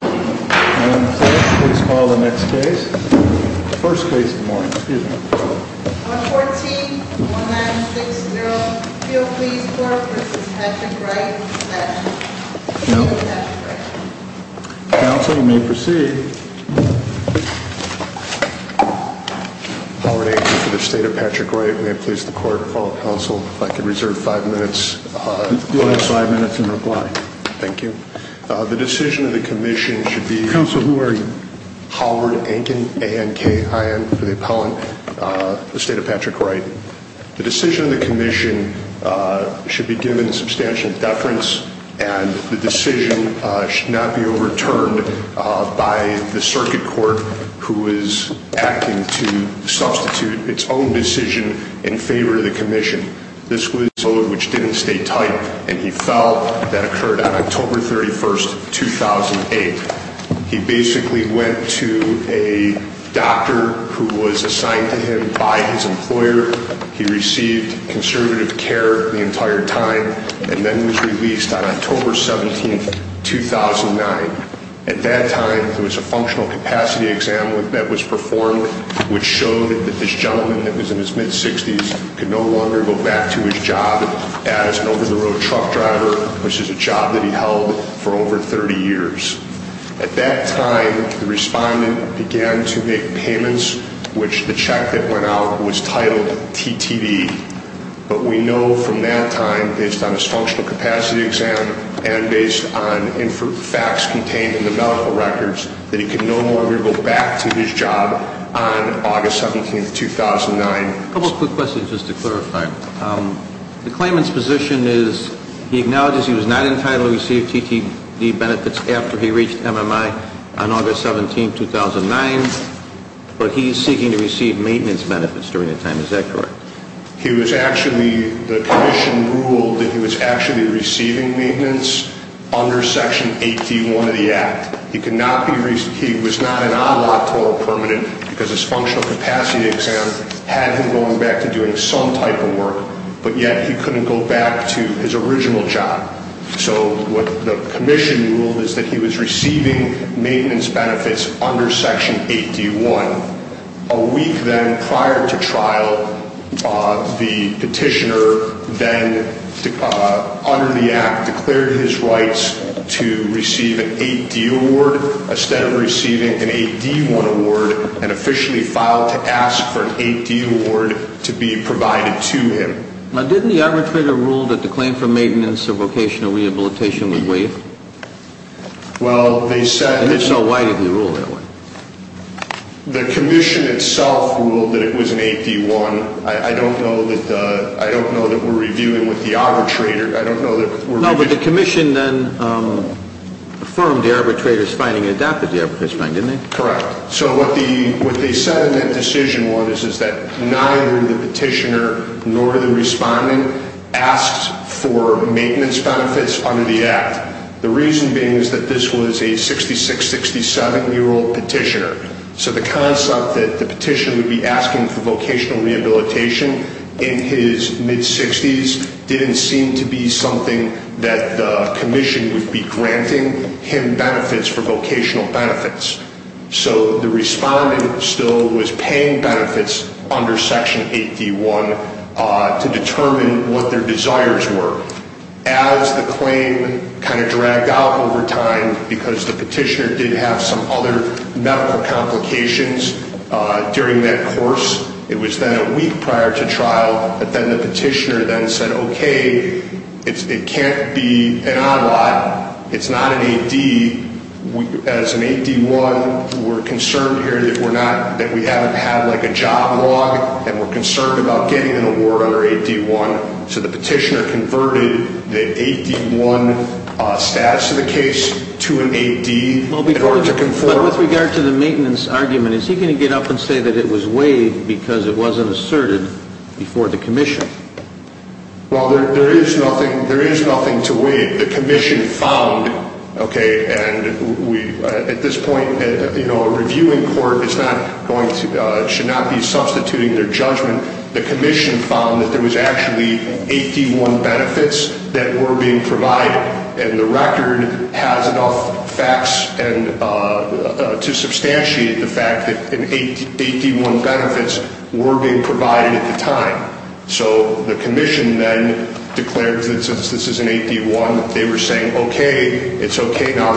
Let's call the next case. First case of the morning, excuse me. On 14-1960, Field Police Court v. Patrick Wright. Counsel, you may proceed. Howard Aiken for the State of Patrick Wright. May it please the court, call the counsel, if I could reserve five minutes in reply. Thank you. The decision of the commission should be... Counsel, who are you? Howard Aiken, A-N-K-I-N, for the appellant, for the State of Patrick Wright. The decision of the commission should be given substantial deference and the decision should not be overturned by the circuit court who is acting to substitute its own decision in favor of the commission. ...which didn't stay tight and he felt that occurred on October 31st, 2008. He basically went to a doctor who was assigned to him by his employer. He received conservative care the entire time and then was released on October 17th, 2009. At that time, there was a functional capacity exam that was performed, which showed that this gentleman that was in his mid-60s could no longer go back to his job as an over-the-road truck driver, which is a job that he held for over 30 years. At that time, the respondent began to make payments, which the check that went out was titled TTD. But we know from that time, based on his functional capacity exam and based on facts contained in the medical records, that he could no longer go back to his job on August 17th, 2009. A couple of quick questions just to clarify. The claimant's position is he acknowledges he was not entitled to receive TTD benefits after he reached MMI on August 17th, 2009, but he is seeking to receive maintenance benefits during that time. Is that correct? The commission ruled that he was actually receiving maintenance under Section 8D1 of the Act. He was not an on-law total permanent because his functional capacity exam had him going back to doing some type of work, but yet he couldn't go back to his original job. So what the commission ruled is that he was receiving maintenance benefits under Section 8D1. A week then prior to trial, the petitioner then, under the Act, declared his rights to receive an 8D award instead of receiving an 8D1 award and officially filed to ask for an 8D award to be provided to him. Now, didn't the arbitrator rule that the claim for maintenance or vocational rehabilitation would waive? Well, they said... And if so, why did they rule that way? The commission itself ruled that it was an 8D1. I don't know that we're reviewing with the arbitrator. I don't know that we're reviewing... No, but the commission then affirmed the arbitrator's finding and adapted the arbitrator's finding, didn't they? Correct. So what they said in that decision is that neither the petitioner nor the respondent asked for maintenance benefits under the Act. The reason being is that this was a 66-67-year-old petitioner, so the concept that the petitioner would be asking for vocational rehabilitation in his mid-60s didn't seem to be something that the commission would be granting him benefits for vocational benefits. So the respondent still was paying benefits under Section 8D1 to determine what their desires were. As the claim kind of dragged out over time because the petitioner did have some other medical complications during that course, it was then a week prior to trial, but then the petitioner then said, okay, it can't be an odd lot. It's not an 8D. As an 8D1, we're concerned here that we haven't had like a job log and we're concerned about getting an award under 8D1. So the petitioner converted the 8D1 status of the case to an 8D in order to conform... ...because it wasn't asserted before the commission. Well, there is nothing to weigh. The commission found, okay, and at this point, you know, a reviewing court should not be substituting their judgment. The commission found that there was actually 8D1 benefits that were being provided, and the record has enough facts to substantiate the fact that 8D1 benefits were being provided at the time. So the commission then declared that since this is an 8D1, they were saying, okay, it's okay now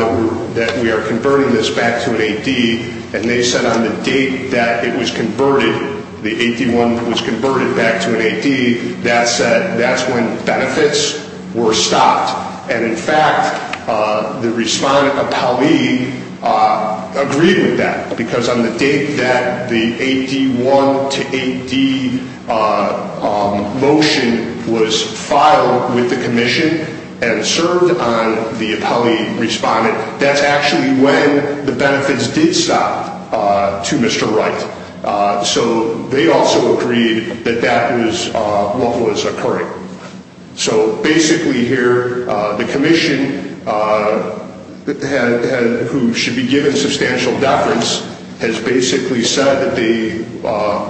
that we are converting this back to an 8D. And they said on the date that it was converted, the 8D1 was converted back to an 8D, that's when benefits were stopped. And in fact, the respondent appellee agreed with that because on the date that the 8D1 to 8D motion was filed with the commission and served on the appellee respondent, that's actually when the benefits did stop to Mr. Wright. So they also agreed that that was what was occurring. So basically here, the commission who should be given substantial deference has basically said that they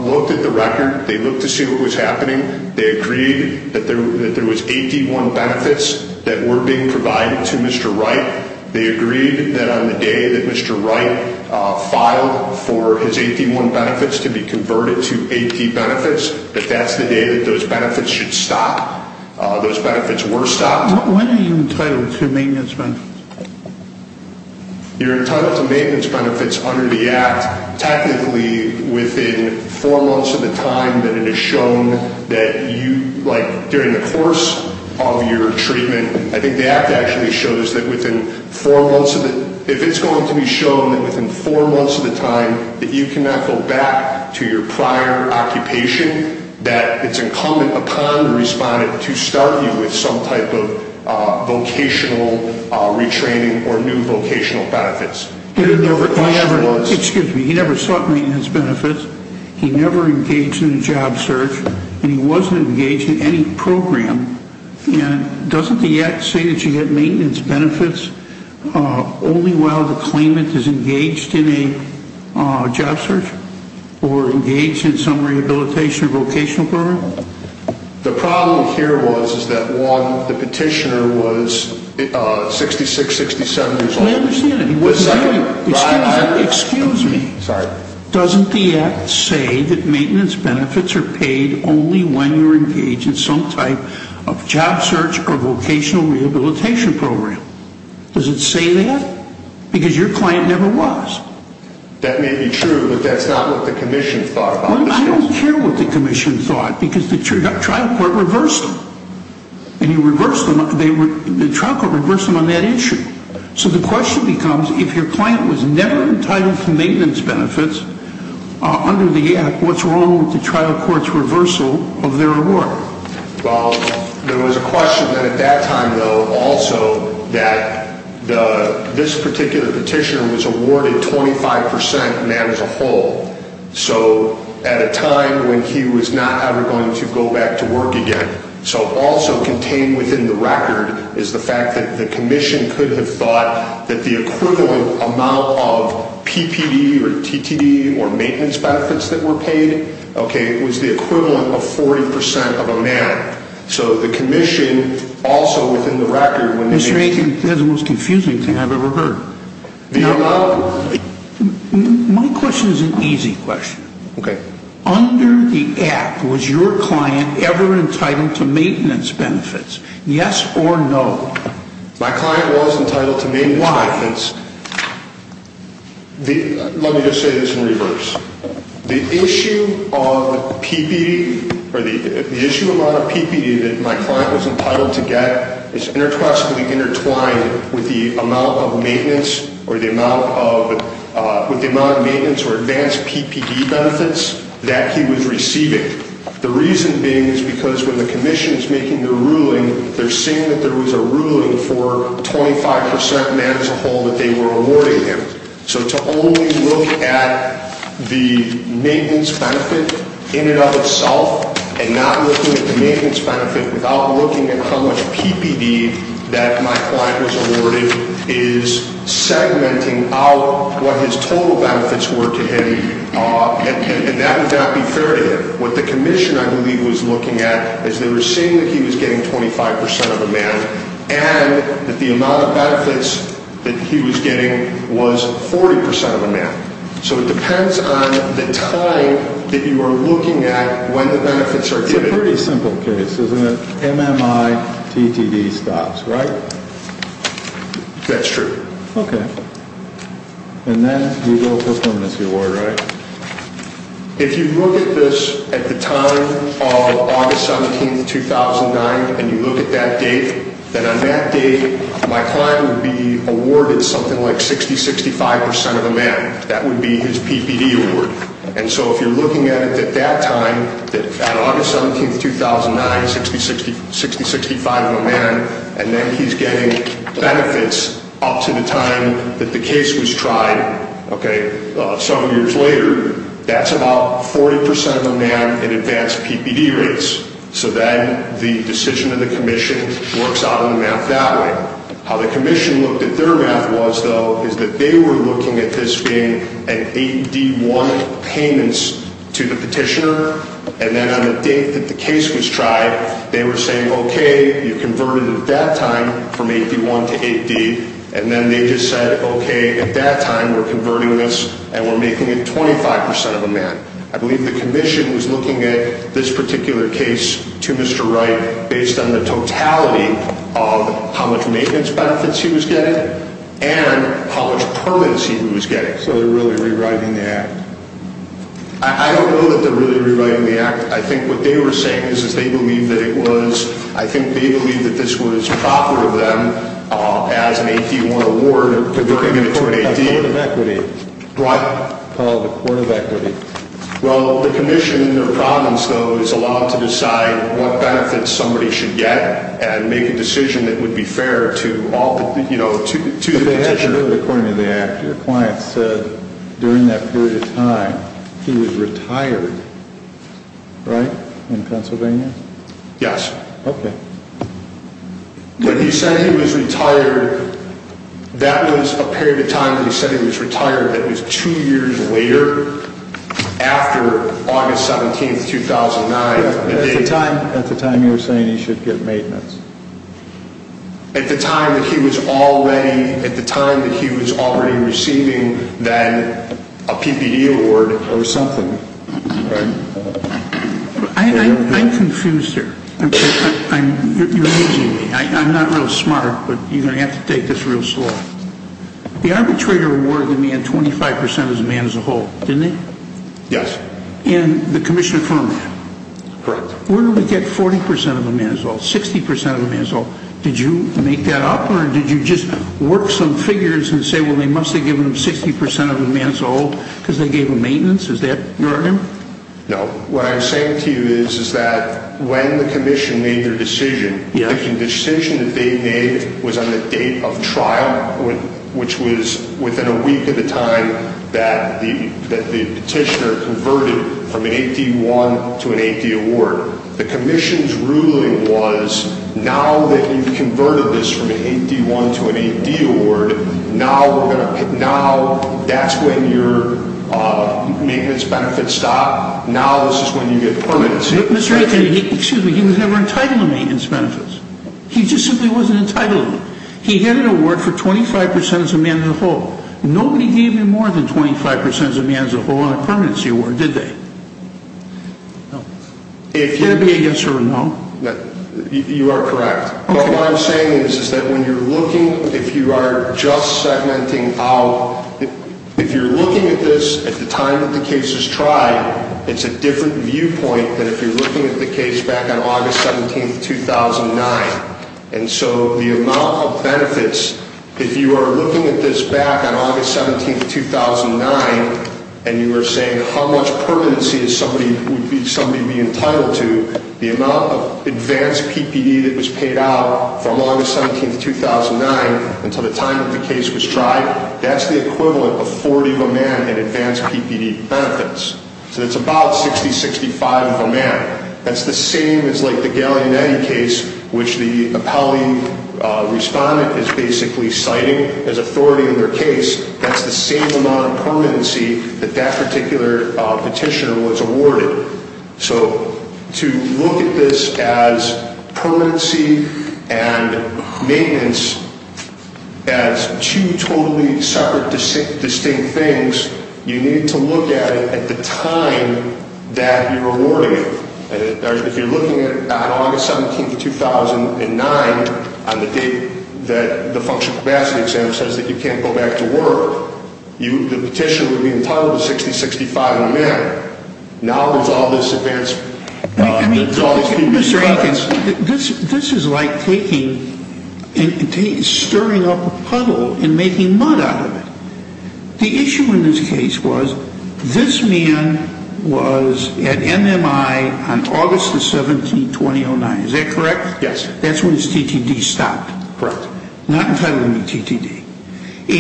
looked at the record, they looked to see what was happening, they agreed that there was 8D1 benefits that were being provided to Mr. Wright. They agreed that on the day that Mr. Wright filed for his 8D1 benefits to be converted to 8D benefits, that that's the day that those benefits should stop, those benefits were stopped. When are you entitled to maintenance benefits? You're entitled to maintenance benefits under the Act. Technically, within four months of the time that it is shown that you, like, during the course of your treatment, I think the Act actually shows that within four months of it, if it's going to be shown that within four months of the time that you cannot go back to your prior occupation, that it's incumbent upon the respondent to start you with some type of vocational retraining or new vocational benefits. Excuse me, he never sought maintenance benefits, he never engaged in a job search, and he wasn't engaged in any program. And doesn't the Act say that you get maintenance benefits only while the claimant is engaged in a job search or engaged in some rehabilitation or vocational program? The problem here was that one, the petitioner was 66, 67 years old. Excuse me, doesn't the Act say that maintenance benefits are paid only when you're engaged in some type of job search or vocational rehabilitation program? Does it say that? Because your client never was. That may be true, but that's not what the Commission thought about this case. I don't care what the Commission thought, because the trial court reversed them. The trial court reversed them on that issue. So the question becomes, if your client was never entitled to maintenance benefits under the Act, what's wrong with the trial court's reversal of their award? Well, there was a question then at that time, though, also, that this particular petitioner was awarded 25 percent, and that is a whole. So at a time when he was not ever going to go back to work again. So also contained within the record is the fact that the Commission could have thought that the equivalent amount of PPD or TTD or maintenance benefits that were paid, okay, was the equivalent of 40 percent of a man. So the Commission also, within the record, when they – Mr. Rankin, that's the most confusing thing I've ever heard. My question is an easy question. Okay. Under the Act, was your client ever entitled to maintenance benefits, yes or no? My client was entitled to maintenance benefits. Why? Let me just say this in reverse. The issue of PPD – or the issue amount of PPD that my client was entitled to get is intertwined with the amount of maintenance or the amount of – with the amount of maintenance or advanced PPD benefits that he was receiving. The reason being is because when the Commission is making their ruling, they're saying that there was a ruling for 25 percent man as a whole that they were awarding him. So to only look at the maintenance benefit in and of itself and not looking at the maintenance benefit without looking at how much PPD that my client was awarded is segmenting out what his total benefits were to him, and that would not be fair to him. What the Commission, I believe, was looking at is they were saying that he was getting 25 percent of a man and that the amount of benefits that he was getting was 40 percent of a man. So it depends on the time that you are looking at when the benefits are given. It's a pretty simple case, isn't it? MMI, TTD stops, right? That's true. Okay. And then you go for a preeminency award, right? If you look at this at the time of August 17, 2009, and you look at that date, then on that date, my client would be awarded something like 60, 65 percent of a man. That would be his PPD award. And so if you're looking at it at that time, at August 17, 2009, 60, 65 of a man, and then he's getting benefits up to the time that the case was tried, okay, some years later, that's about 40 percent of a man in advanced PPD rates. So then the decision of the Commission works out in the math that way. How the Commission looked at their math was, though, is that they were looking at this being an 8D1 payments to the petitioner. And then on the date that the case was tried, they were saying, okay, you converted it at that time from 8D1 to 8D. And then they just said, okay, at that time, we're converting this and we're making it 25 percent of a man. I believe the Commission was looking at this particular case to Mr. Wright based on the totality of how much maintenance benefits he was getting and how much permits he was getting. So they're really rewriting the act? I don't know that they're really rewriting the act. I think what they were saying is they believe that it was, I think they believe that this was proper of them as an 8D1 award or converting it to an 8D. The Court of Equity. What? Called the Court of Equity. Well, the Commission in their province, though, is allowed to decide what benefits somebody should get and make a decision that would be fair to all, you know, to the petitioner. But they had to do it according to the act. Your client said during that period of time he was retired, right, in Pennsylvania? Yes. Okay. When he said he was retired, that was a period of time that he said he was retired. That was two years later after August 17th, 2009. At the time you were saying he should get maintenance. At the time that he was already receiving then a PPD award or something, right? I'm confused here. You're amusing me. I'm not real smart, but you're going to have to take this real slow. The arbitrator awarded the man 25% of the man as a whole, didn't he? Yes. And the Commission affirmed that. Correct. Where do we get 40% of the man as a whole, 60% of the man as a whole? Did you make that up or did you just work some figures and say, well, they must have given him 60% of the man as a whole because they gave him maintenance? Is that your argument? No. What I'm saying to you is that when the Commission made their decision, the decision that they made was on the date of trial, which was within a week at the time that the petitioner converted from an 8D1 to an 8D award. The Commission's ruling was now that you've converted this from an 8D1 to an 8D award, but now that's when your maintenance benefits stop. Now this is when you get permanency. Excuse me. He was never entitled to maintenance benefits. He just simply wasn't entitled. He had an award for 25% of the man as a whole. Nobody gave him more than 25% of the man as a whole on a permanency award, did they? No. Is that a yes or a no? You are correct. Okay. What I'm saying is that when you're looking, if you are just segmenting out, if you're looking at this at the time that the case is tried, it's a different viewpoint than if you're looking at the case back on August 17, 2009. And so the amount of benefits, if you are looking at this back on August 17, 2009, and you were saying how much permanency would somebody be entitled to, the amount of advanced PPD that was paid out from August 17, 2009 until the time that the case was tried, that's the equivalent of 40 of a man in advanced PPD benefits. So it's about 60, 65 of a man. That's the same as like the Gallinetti case, which the appellee respondent is basically citing as authority in their case. That's the same amount of permanency that that particular petitioner was awarded. So to look at this as permanency and maintenance as two totally separate distinct things, you need to look at it at the time that you're awarding it. If you're looking at it on August 17, 2009 on the date that the functional capacity exam says that you can't go back to work, the petitioner would be entitled to 60, 65 of a man. Now there's all this advanced PPD benefits. This is like stirring up a puddle and making mud out of it. The issue in this case was this man was at MMI on August 17, 2009. Is that correct? Yes, sir. That's when his TTD stopped. Correct. Not entitled to any TTD.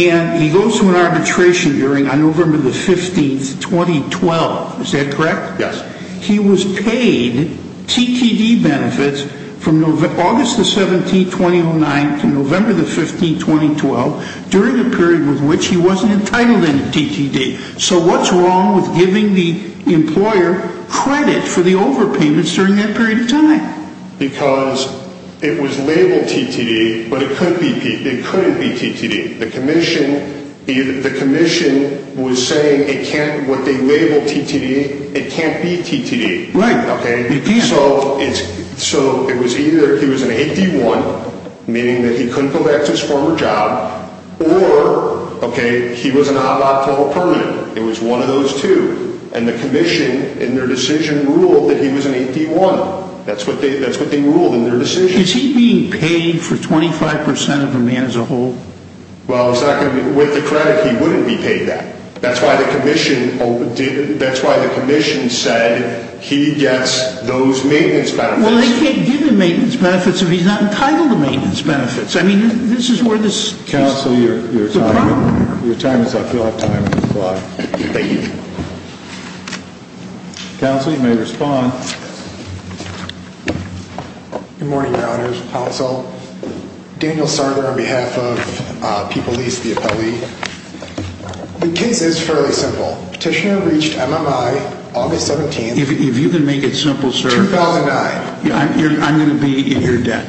And he goes to an arbitration hearing on November 15, 2012. Is that correct? Yes. He was paid TTD benefits from August 17, 2009 to November 15, 2012 during a period with which he wasn't entitled to any TTD. So what's wrong with giving the employer credit for the overpayments during that period of time? Because it was labeled TTD, but it couldn't be TTD. The commission was saying what they labeled TTD, it can't be TTD. Right. Okay? It can't. So it was either he was an 8D1, meaning that he couldn't go back to his former job, or, okay, he was an ABAP 12 permanent. It was one of those two. And the commission in their decision ruled that he was an 8D1. That's what they ruled in their decision. Is he being paid for 25% of a man as a whole? Well, with the credit, he wouldn't be paid that. That's why the commission said he gets those maintenance benefits. Well, they can't give him maintenance benefits if he's not entitled to maintenance benefits. I mean, this is where the problem is. Counsel, your time is up. You'll have time on the clock. Thank you. Counsel, you may respond. Good morning, Your Honors. Counsel, Daniel Sarger on behalf of People East, the appellee. The case is fairly simple. Petitioner reached MMI August 17th. If you can make it simple, sir. 2009. I'm going to be in your debt.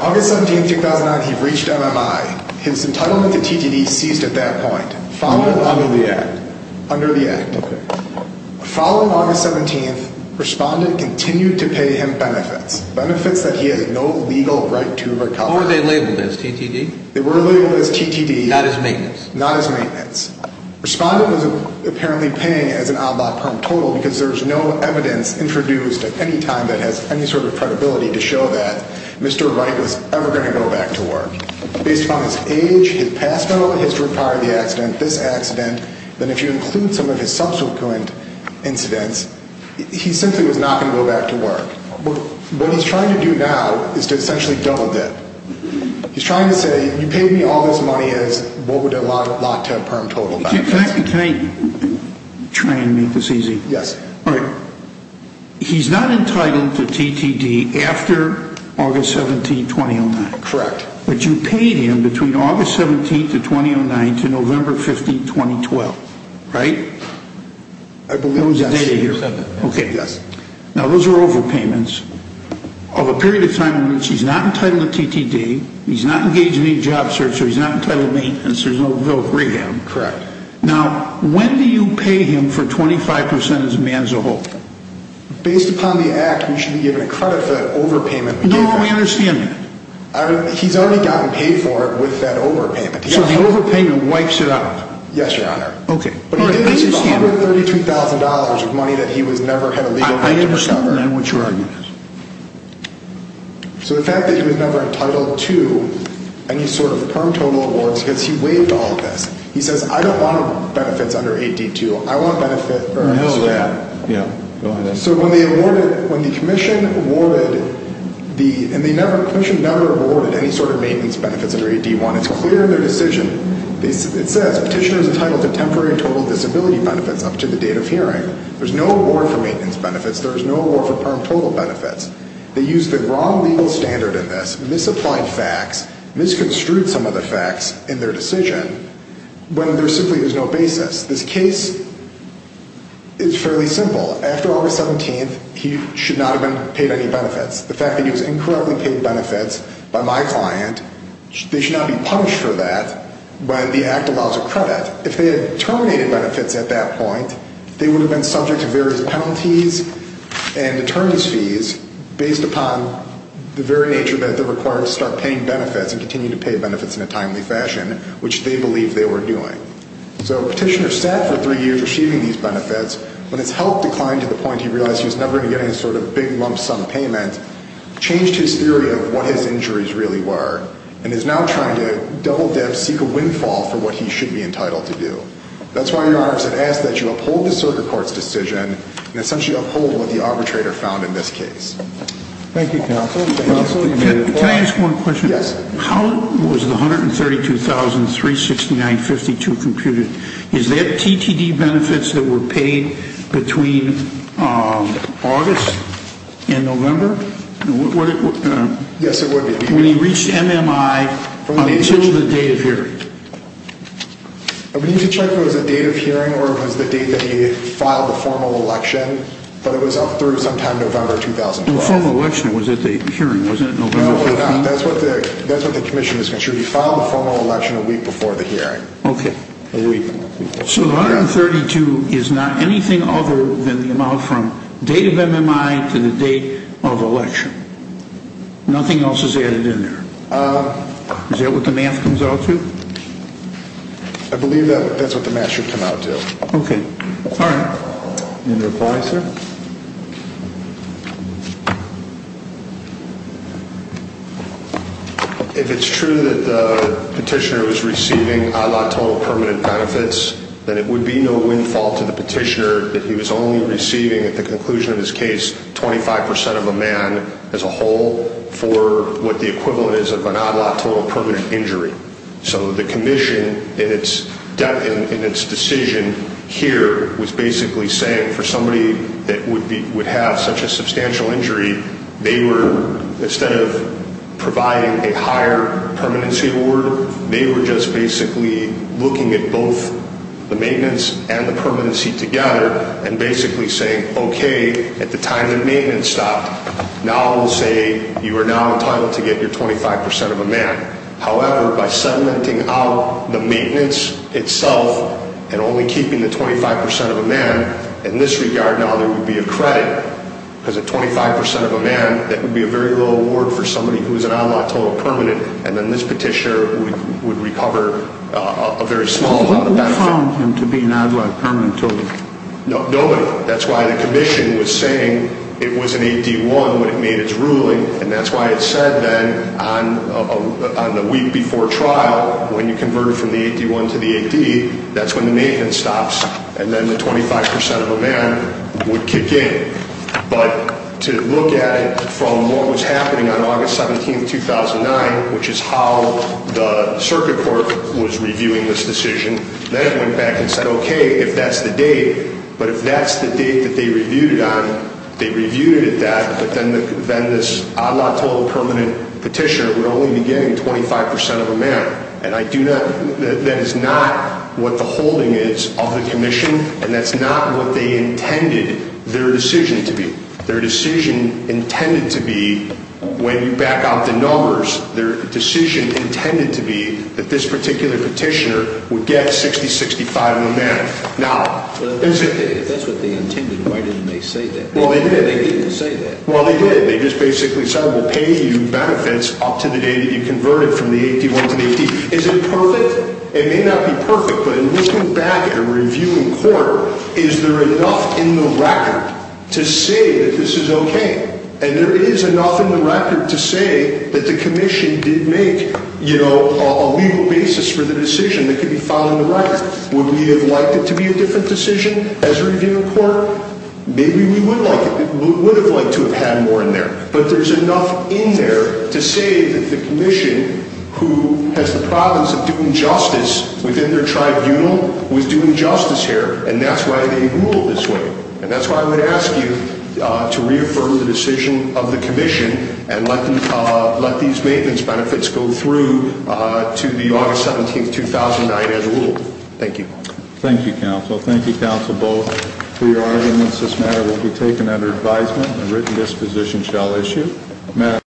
August 17th, 2009, he reached MMI. His entitlement to TTD ceased at that point. Under the Act. Under the Act. Okay. Following August 17th, Respondent continued to pay him benefits. Benefits that he has no legal right to recover. Or were they labeled as TTD? They were labeled as TTD. Not as maintenance. Not as maintenance. Respondent was apparently paying as an oddball perm total because there's no evidence introduced at any time that has any sort of credibility to show that Mr. Wright was ever going to go back to work. Based upon his age, his past medical history prior to the accident, this accident, then if you include some of his subsequent incidents, he simply was not going to go back to work. What he's trying to do now is to essentially double dip. He's trying to say, you paid me all this money as what would a lot to a perm total. Can I try and make this easy? Yes. All right. He's not entitled to TTD after August 17th, 2009. Correct. But you paid him between August 17th, 2009 to November 15th, 2012. Right? I believe that's the date here. Okay. Yes. Now, those are overpayments of a period of time in which he's not entitled to TTD, he's not engaged in any job search, or he's not entitled to maintenance. There's no rehab. Correct. Now, when do you pay him for 25% as a man as a whole? Based upon the act, we should be given a credit for that overpayment. No, we understand that. He's already gotten paid for it with that overpayment. So the overpayment wipes it out? Yes, Your Honor. Okay. But he did lose the $132,000 of money that he never had a legal right to recover. I understand that. What's your argument? So the fact that he was never entitled to any sort of perm total awards because he waived all of this. He says, I don't want benefits under 8D2. I want benefits for a man. Yeah. Go ahead. So when the Commission awarded the – and the Commission never awarded any sort of maintenance benefits under 8D1. It's clear in their decision. It says, Petitioner is entitled to temporary and total disability benefits up to the date of hearing. There's no award for maintenance benefits. There's no award for perm total benefits. They used the wrong legal standard in this, misapplied facts, misconstrued some of the facts in their decision when there simply was no basis. This case is fairly simple. After August 17th, he should not have been paid any benefits. The fact that he was incorrectly paid benefits by my client, they should not be punished for that, but the Act allows a credit. If they had terminated benefits at that point, they would have been subject to various penalties and determinist fees based upon the very nature that it requires to start paying benefits and continue to pay benefits in a timely fashion, which they believed they were doing. So Petitioner sat for three years receiving these benefits. When his health declined to the point he realized he was never going to get any sort of big lump sum payment, changed his theory of what his injuries really were, and is now trying to double-dip, seek a windfall for what he should be entitled to do. That's why, Your Honor, I said ask that you uphold the Circuit Court's decision and essentially uphold what the arbitrator found in this case. Thank you, Counsel. Counsel, you may – Can I ask one question? Yes. How was the $132,369.52 computed? Is that TTD benefits that were paid between August and November? Yes, it would be. When he reached MMI until the date of hearing? We need to check if it was the date of hearing or if it was the date that he filed the formal election, but it was up through sometime November 2005. The formal election was at the hearing, wasn't it? No, that's what the commission is concerned. He filed the formal election a week before the hearing. Okay. A week. So $132,369.52 is not anything other than the amount from date of MMI to the date of election. Nothing else is added in there. Is that what the math comes out to? I believe that's what the math should come out to. Okay. All right. Any other advice, sir? If it's true that the petitioner was receiving ad lato permanent benefits, then it would be no windfall to the petitioner that he was only receiving, at the conclusion of his case, 25% of a man as a whole for what the equivalent is of an ad lato permanent injury. So the commission in its decision here was basically saying for somebody that would have such a substantial injury, they were, instead of providing a higher permanency award, they were just basically looking at both the maintenance and the permanency together and basically saying, okay, at the time that maintenance stopped, now we'll say you are now entitled to get your 25% of a man. However, by supplementing out the maintenance itself and only keeping the 25% of a man, in this regard now there would be a credit because at 25% of a man, that would be a very low award for somebody who was an ad lato permanent and then this petitioner would recover a very small amount of benefit. Who found him to be an ad lato permanent total? Nobody. That's why the commission was saying it was an AD1 when it made its ruling and that's why it said then on the week before trial when you convert it from the AD1 to the AD, that's when the maintenance stops and then the 25% of a man would kick in. But to look at it from what was happening on August 17, 2009, which is how the circuit court was reviewing this decision, then it went back and said, okay, if that's the date, but if that's the date that they reviewed it on, they reviewed it at that, but then this ad lato permanent petitioner would only be getting 25% of a man and that is not what the holding is of the commission and that's not what they intended their decision to be. Their decision intended to be, when you back out the numbers, their decision intended to be that this particular petitioner would get 60-65 of a man. If that's what they intended, why didn't they say that? They didn't say that. Well, they did. They just basically said we'll pay you benefits up to the day that you convert it from the AD1 to the AD. Is it perfect? It may not be perfect, but in looking back at a review in court, is there enough in the record to say that this is okay? And there is enough in the record to say that the commission did make a legal basis for the decision that could be filed in the record. Would we have liked it to be a different decision as a review in court? Maybe we would have liked to have had more in there, but there's enough in there to say that the commission, who has the province of doing justice within their tribunal, was doing justice here and that's why they ruled this way. And that's why I would ask you to reaffirm the decision of the commission and let these maintenance benefits go through to the August 17, 2009, as ruled. Thank you. Thank you, counsel. Thank you, counsel, both, for your arguments. This matter will be taken under advisement and a written disposition shall issue.